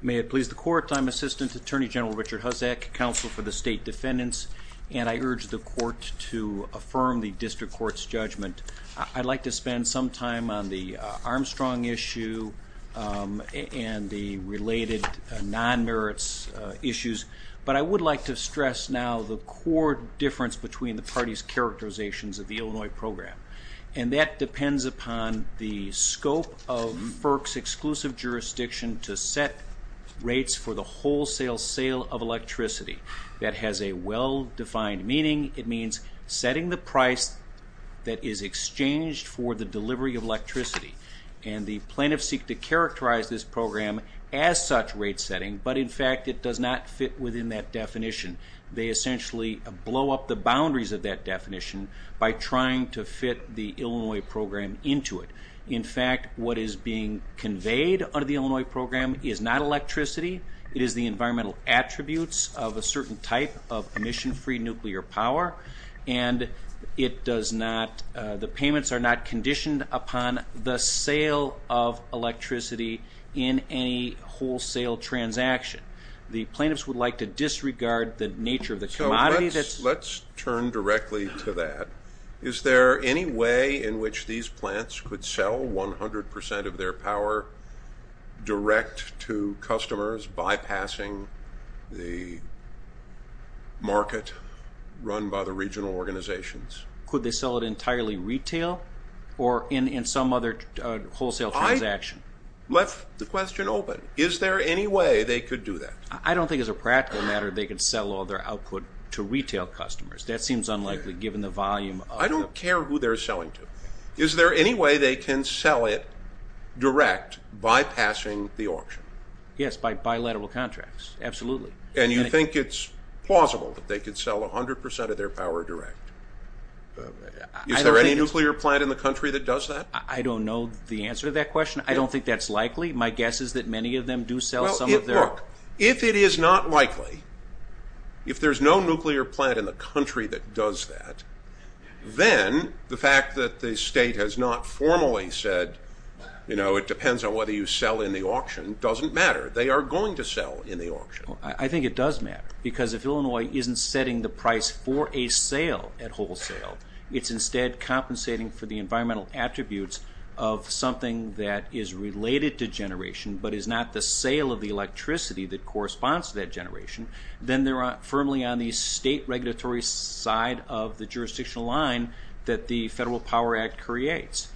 May it please the Court, I'm Assistant Attorney General Richard Hussack, Counsel for the State Defendants, and I urge the Court to affirm the District Court's judgment. I'd like to spend some time on the Armstrong issue and the related non-merits issues, but I would like to stress now the core difference between the party's characterizations of the program and the plaintiff's. It depends upon the scope of FERC's exclusive jurisdiction to set rates for the wholesale sale of electricity. That has a well-defined meaning. It means setting the price that is exchanged for the delivery of electricity, and the plaintiffs seek to characterize this program as such rate setting, but in fact, it does not fit within that definition. They essentially blow up the boundaries of that definition by trying to fit the Illinois program into it. In fact, what is being conveyed under the Illinois program is not electricity, it is the environmental attributes of a certain type of emission-free nuclear power, and the payments are not conditioned upon the sale of electricity in any wholesale transaction. The plaintiffs would like to disregard the nature of the question. Is there any way in which these plants could sell 100% of their power direct to customers, bypassing the market run by the regional organizations? Could they sell it entirely retail or in some other wholesale transaction? I left the question open. Is there any way they could do that? I don't think as a practical matter they could sell all their output to retail customers. I don't care who they are selling to. Is there any way they can sell it direct, bypassing the auction? Yes, by bilateral contracts, absolutely. And you think it is plausible that they could sell 100% of their power direct? Is there any nuclear plant in the country that does that? I don't know the answer to that question. I don't think that if there's no nuclear plant in the country that does that, then the fact that the state has not formally said, you know, it depends on whether you sell in the auction, doesn't matter. They are going to sell in the auction. I think it does matter because if Illinois isn't setting the price for a sale at wholesale, it's instead compensating for the environmental attributes of something that is related to generation but is not the sale of the electricity that is only on the state regulatory side of the jurisdictional line that the Federal Power Act creates.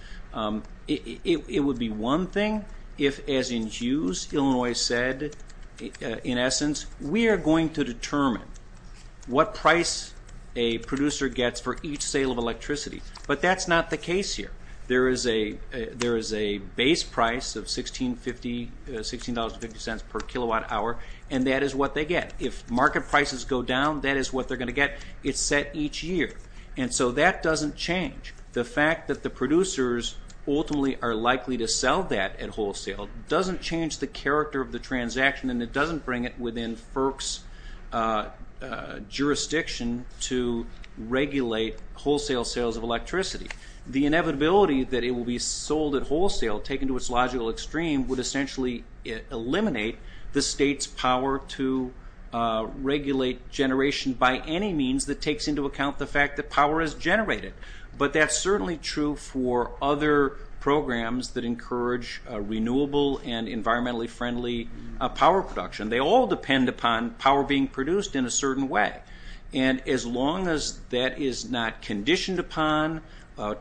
It would be one thing if, as in Hughes, Illinois said in essence, we are going to determine what price a producer gets for each sale of electricity. But that's not the case here. There is a base price of $16.50 per kilowatt hour and that is what they get. If market prices go down, that is what they're going to get. It's set each year. And so that doesn't change. The fact that the producers ultimately are likely to sell that at wholesale doesn't change the character of the transaction and it doesn't bring it within FERC's jurisdiction to regulate wholesale sales of electricity. The inevitability that it will be sold at wholesale, taken to its logical extreme, would essentially eliminate the state's power to regulate generation by any means that takes into account the fact that power is generated. But that's certainly true for other programs that encourage renewable and environmentally friendly power production. They all depend upon power being produced in a certain way. And as long as that is not conditioned upon,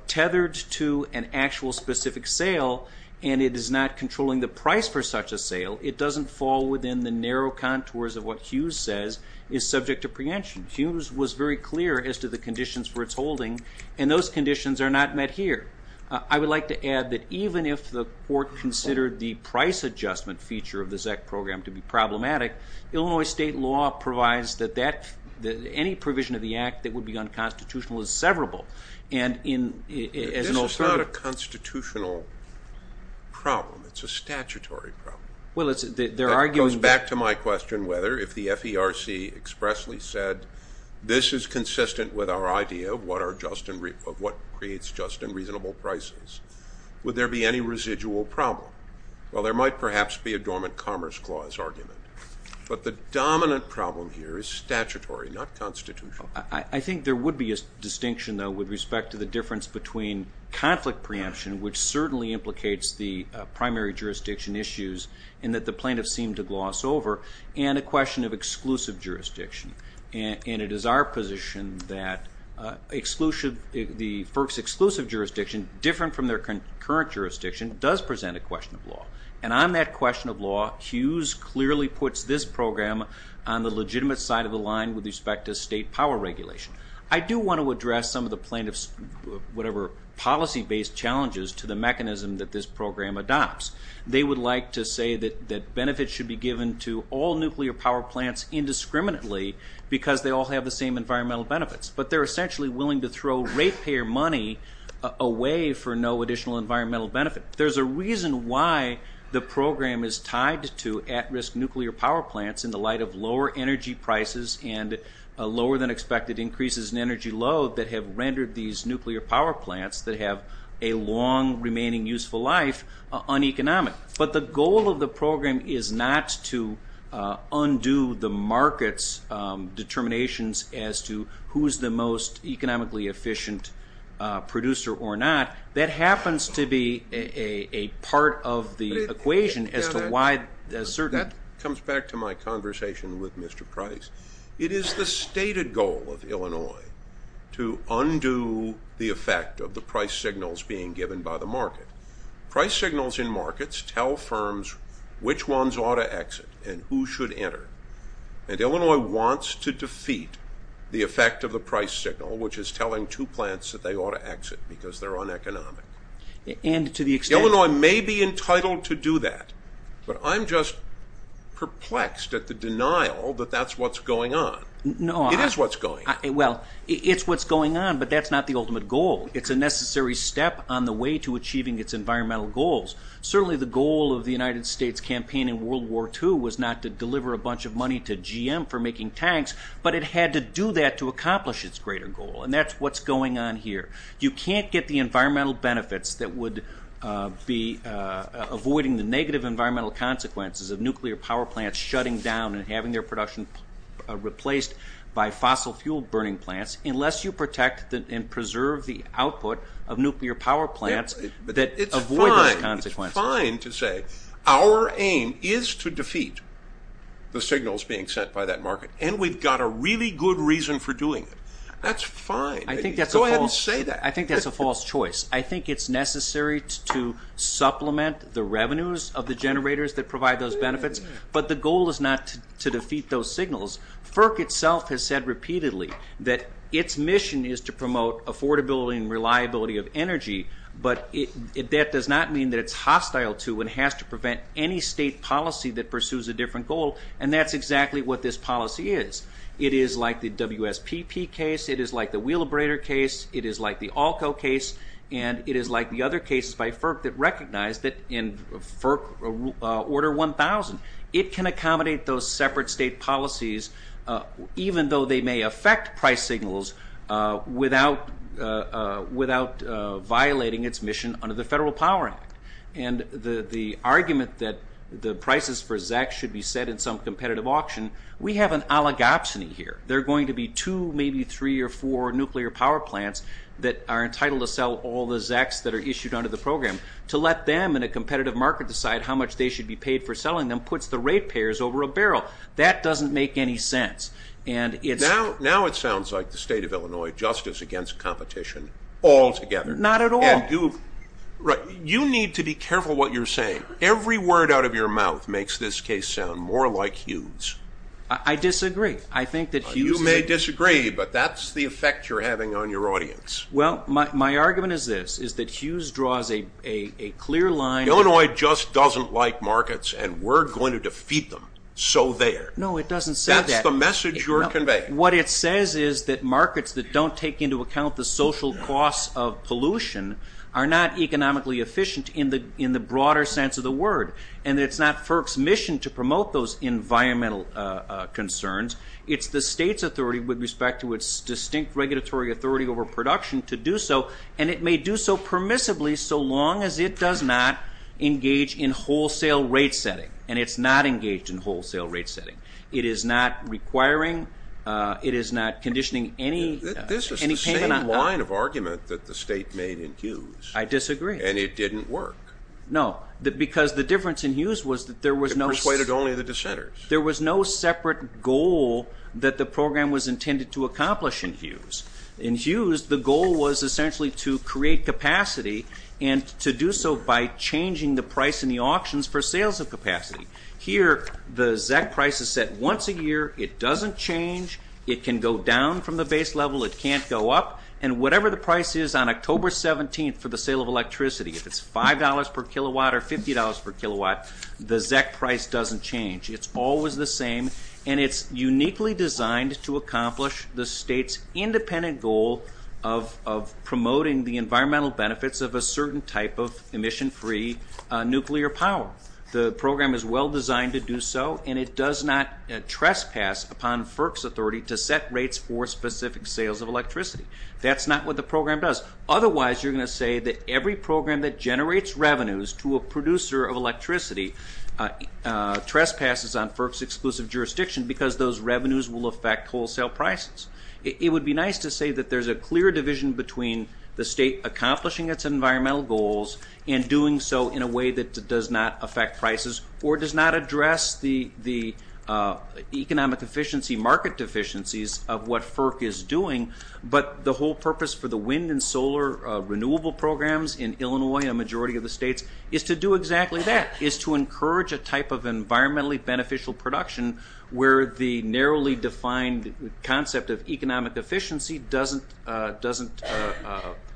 tethered to an actual specific sale, and it is not controlling the price for such a sale, it doesn't fall within the narrow contours of what Hughes says is subject to preemption. Hughes was very clear as to the conditions for its holding and those conditions are not met here. I would like to add that even if the court considered the price adjustment feature of the ZEC program to be problematic, Illinois state law provides that any provision of the act that would be unconstitutional is severable. This is not a constitutional problem. It's a statutory problem. It goes back to my question whether if the FERC expressly said, this is consistent with our idea of what creates just and reasonable prices, would there be any residual problem? Well, there might perhaps be a dormant commerce clause argument. But the dominant problem here is statutory, not constitutional. I think there would be a distinction, though, with respect to the difference between conflict preemption, which certainly implicates the primary jurisdiction issues, and that the plaintiffs seem to gloss over, and a question of exclusive jurisdiction. And it is our position that the FERC's exclusive jurisdiction, different from their concurrent jurisdiction, does present a question of law. And on that question of law, Hughes clearly puts this program on the legitimate side of the line with respect to state power regulation. I do want to address some of the plaintiffs' policy-based challenges to the mechanism that this program adopts. They would like to say that benefits should be given to all nuclear power plants indiscriminately because they all have the same environmental benefits. But they're essentially willing to throw rate-payer money away for no additional environmental benefit. There's a reason why the program is tied to at-risk nuclear power plants in the light of lower-than-expected increases in energy load that have rendered these nuclear power plants that have a long remaining useful life uneconomic. But the goal of the program is not to undo the market's determinations as to who's the most economically efficient producer or not. That happens to be a part of the equation as to why a certain... That comes back to my conversation with Mr. Price. It is the stated goal of Illinois to undo the effect of the price signals being given by the market. Price signals in markets tell firms which ones ought to exit and who should enter. And Illinois wants to defeat the effect of the price signal, which is telling two plants that they ought to exit because they're uneconomic. And to the extent... Illinois may be entitled to do that, but I'm just perplexed at the denial that that's what's going on. It is what's going on. Well, it's what's going on, but that's not the ultimate goal. It's a necessary step on the way to achieving its environmental goals. Certainly the goal of the United States campaign in World War II was not to deliver a bunch of money to GM for making tanks, but it had to do that to accomplish its greater goal. And that's what's going on here. You can't get the environmental benefits that would be avoiding the negative environmental consequences of nuclear power plants shutting down and having their production replaced by fossil fuel burning plants unless you protect and preserve the output of nuclear power plants that avoid those consequences. It's fine to say our aim is to defeat the signals being sent by that market, and we've got a really good reason for doing it. That's fine. Go ahead and say that. I think that's a false choice. I think it's necessary to supplement the revenues of the generators that provide those benefits, but the goal is not to defeat those signals. FERC itself has said repeatedly that its mission is to promote affordability and reliability of energy, but that does not mean that it's hostile to and has to prevent any state policy that pursues a different goal, and that's exactly what this policy is. It is like the WSPP case, it is like the wheel abrader case, it is like the ALCO case, and it is like the other cases by FERC that recognize that in FERC Order 1000, it can accommodate those separate state policies even though they may affect price signals without violating its mission under the Federal Power Act, and the argument that the prices for ZEX should be set in some competitive auction, we have an oligopsony here. There are going to be two, maybe three, or four nuclear power plants that are entitled to sell all the ZEX that are issued under the program. To let them in a competitive market decide how much they should be paid for selling them puts the rate payers over a barrel. That doesn't make any sense. Now it sounds like the state of Illinois just is against competition altogether. Not at all. You need to be careful what you're saying. Every word out of your mouth makes this case sound more like Hughes. I disagree. You may disagree, but that's the effect you're having on your audience. Well, my argument is this, is that Hughes draws a clear line. Illinois just doesn't like markets and we're going to defeat them, so there. No, it doesn't say that. That's the message you're conveying. What it says is that markets that don't take into account the social costs of pollution are not economically efficient in the broader sense of the word, and that it's not FERC's mission to concerns. It's the state's authority with respect to its distinct regulatory authority over production to do so, and it may do so permissibly so long as it does not engage in wholesale rate-setting, and it's not engaged in wholesale rate-setting. It is not requiring, it is not conditioning any payment. This is the same line of argument that the state made in Hughes. I disagree. And it didn't work. No, because the difference in Hughes was that there was no... It persuaded the goal that the program was intended to accomplish in Hughes. In Hughes, the goal was essentially to create capacity and to do so by changing the price in the auctions for sales of capacity. Here, the ZEC price is set once a year. It doesn't change. It can go down from the base level. It can't go up. And whatever the price is on October 17th for the sale of electricity, if it's $5 per kilowatt or $50 per kilowatt, the ZEC price doesn't change. It's always the same, and it's uniquely designed to accomplish the state's independent goal of promoting the environmental benefits of a certain type of emission-free nuclear power. The program is well designed to do so, and it does not trespass upon FERC's authority to set rates for specific sales of electricity. That's not what the program does. Otherwise, you're going to say that every program that generates revenues to a producer of electricity trespasses on FERC's exclusive jurisdiction because those revenues will affect wholesale prices. It would be nice to say that there's a clear division between the state accomplishing its environmental goals and doing so in a way that does not affect prices or does not address the economic efficiency market deficiencies of what FERC is doing, but the whole purpose for the wind and solar renewable programs in Illinois and a majority of the states is to do exactly that, is to encourage a type of program where the narrowly defined concept of economic efficiency doesn't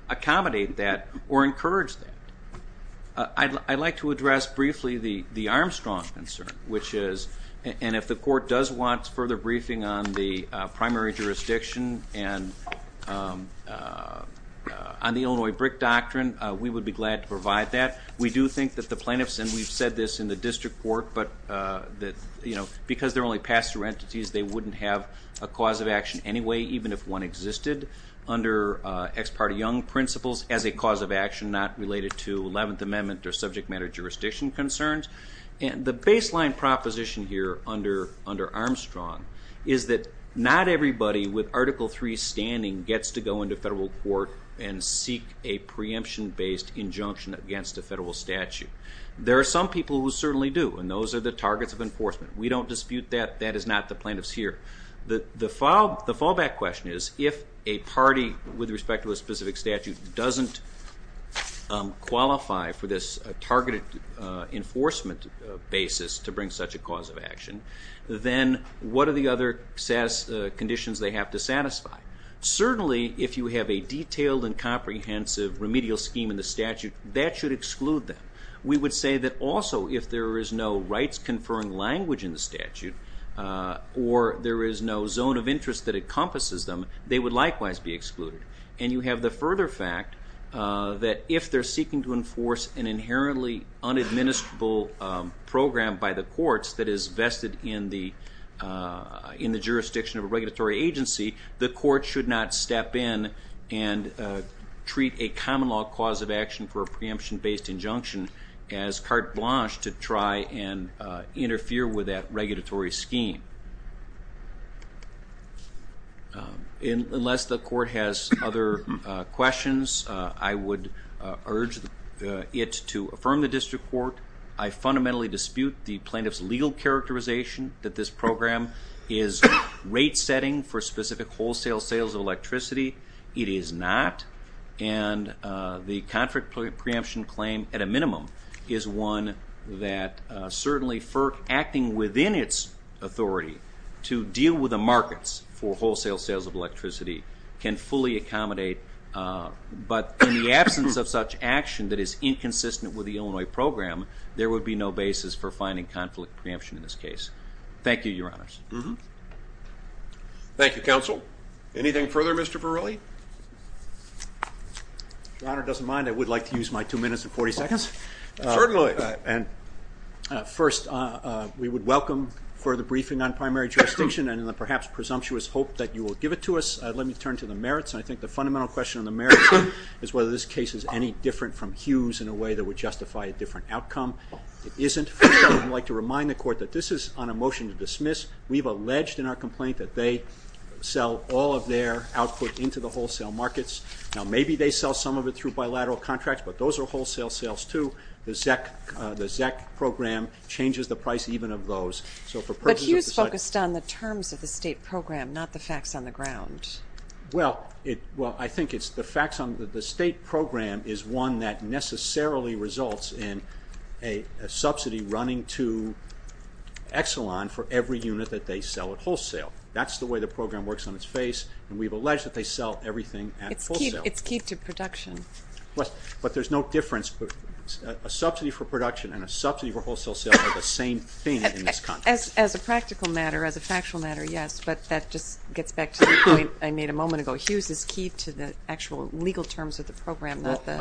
accommodate that or encourage that. I'd like to address briefly the Armstrong concern, which is, and if the court does want further briefing on the primary jurisdiction and on the Illinois BRIC doctrine, we would be glad to provide that. We do think that the plaintiffs, and we've said this in the district court, but because they're only pass-through entities, they wouldn't have a cause of action anyway, even if one existed under ex parte young principles as a cause of action not related to 11th Amendment or subject matter jurisdiction concerns. The baseline proposition here under Armstrong is that not everybody with Article III standing gets to go into federal court and seek a preemption-based injunction against a federal statute. There are some people who certainly do, and those are the targets of enforcement. We don't dispute that. That is not the plaintiffs here. The fallback question is, if a party with respect to a specific statute doesn't qualify for this targeted enforcement basis to bring such a cause of action, then what are the other conditions they have to satisfy? Certainly, if you have a detailed and comprehensive remedial scheme in the federal rights-conferring language in the statute, or there is no zone of interest that encompasses them, they would likewise be excluded. You have the further fact that if they're seeking to enforce an inherently unadministerable program by the courts that is vested in the jurisdiction of a regulatory agency, the court should not step in and treat a common law cause of action for and interfere with that regulatory scheme. Unless the court has other questions, I would urge it to affirm the district court. I fundamentally dispute the plaintiff's legal characterization that this program is rate-setting for specific wholesale sales of electricity. It is not, and the conflict preemption claim, at a minimum, is one that certainly FERC acting within its authority to deal with the markets for wholesale sales of electricity can fully accommodate, but in the absence of such action that is inconsistent with the Illinois program, there would be no basis for finding conflict preemption in this case. Thank you, Your Honors. Thank you, counsel. Anything further, Mr. Verrilli? If Your Honor doesn't mind, I would like to use my two minutes and 40 seconds. Certainly. First, we would welcome further briefing on primary jurisdiction and in the perhaps presumptuous hope that you will give it to us, let me turn to the merits. I think the fundamental question on the merits is whether this case is any different from Hughes in a way that would justify a different outcome. It isn't. I'd like to remind the court that this is on a motion to dismiss. We've alleged in our complaint that they sell all of their output into the wholesale markets. Now, maybe they sell some of it through bilateral contracts, but those are wholesale sales, too. The ZEC program changes the price even of those. But Hughes focused on the terms of the state program, not the facts on the ground. Well, I think it's the facts on the state program is one that necessarily results in a subsidy running to Exelon for every unit that they sell at wholesale. That's the way the program works on its face, and we've alleged that they sell everything at wholesale. It's key to production. But there's no difference. A subsidy for production and a subsidy for wholesale sales are the same thing in this context. As a practical matter, as a factual matter, yes, but that just gets back to the point I made a moment ago. Hughes is key to the actual legal terms of the program, not the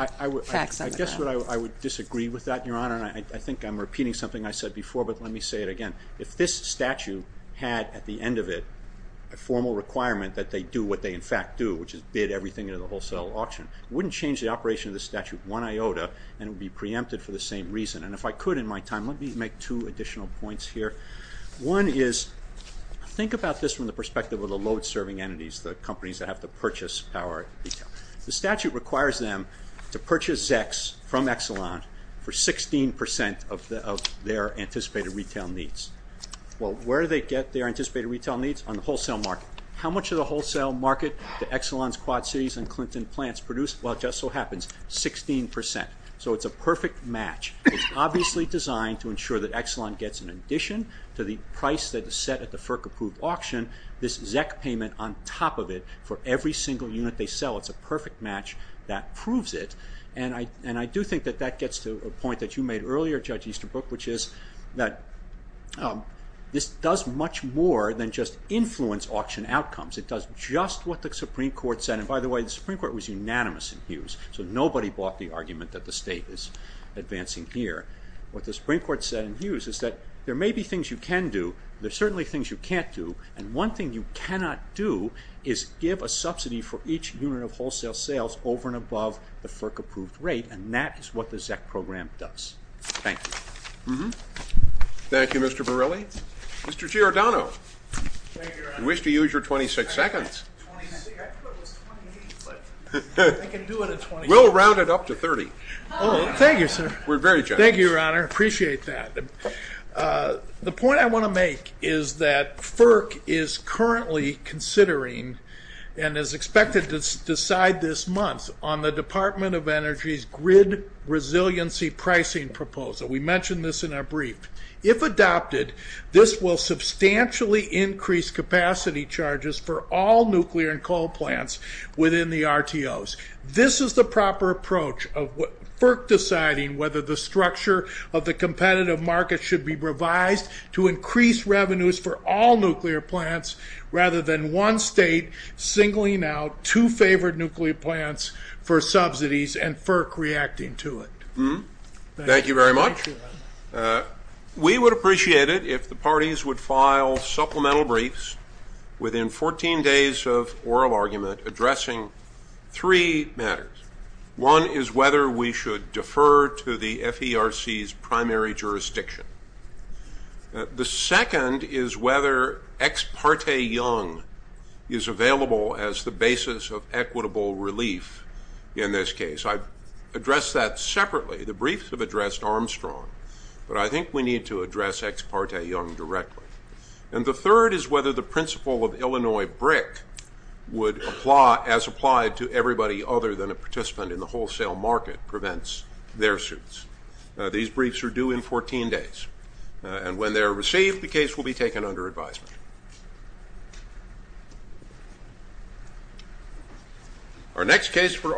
facts on the ground. I guess I would disagree with that, Your Honor, and I think I'm repeating something I said before, but let me say it again. If this statute had at the end of it a formal requirement that they do what they in fact do, which is bid everything into the wholesale auction, it wouldn't change the operation of the statute one iota, and it would be preempted for the same reason. And if I could in my time, let me make two additional points here. One is, think about this from the perspective of the load-serving entities, the companies that have to purchase power retail. The statute requires them to purchase ZECs from Exelon for 16% of their anticipated retail needs. Well, where do they get their anticipated retail needs? On the wholesale market. How much of the wholesale market do Exelon's Quad Cities and Clinton plants produce? Well, it just so happens, 16%. So it's a perfect match. It's obviously designed to ensure that Exelon gets, in addition to the price that is set at the FERC-approved auction, this ZEC payment on top of it for every single unit they sell. It's a perfect match that proves it, and I do think that that gets to a point that you made earlier, Judge Easterbrook, which is that this does much more than just influence auction outcomes. It does just what the Supreme Court said, and by the way, the Supreme Court was unanimous in Hughes, so nobody bought the argument that the state is advancing here. What the Supreme Court said in Hughes is that there may be things you can do, there's certainly things you can't do, and one thing you cannot do is give a subsidy for each unit of wholesale sales over and above the FERC-approved rate, and that is what the ZEC program does. Thank you. Thank you, Mr. Borrelli. Mr. Giordano, you wish to use your 26 seconds. We'll round it up to 30. Oh, thank you, sir. We're very generous. Thank you, Your Honor, appreciate that. The point I want to make is that FERC is currently considering and is expected to decide this month on the Department of Energy's grid resiliency pricing proposal. We mentioned this in our brief. If adopted, this will substantially increase capacity charges for all nuclear and coal plants within the RTOs. This is the proper approach of FERC deciding whether the structure of the competitive market should be revised to increase revenues for all nuclear plants rather than one state singling out two favored nuclear plants for subsidies and FERC reacting to it. Thank you very much. We would appreciate it if the parties would file supplemental briefs within 14 days of oral argument addressing three matters. One is whether we should defer to the FERC's primary jurisdiction. The second is whether Ex parte Young is available as the basis of equitable relief in this case. I've addressed that separately. The briefs have addressed Armstrong, but I think we need to address Ex parte Young directly. And the third is whether the principle of Illinois BRIC would apply as applied to everybody other than a participant in the wholesale market prevents their suits. These briefs are due in 14 days, and when they are received, the case will be taken under advisement. Our next case for argument...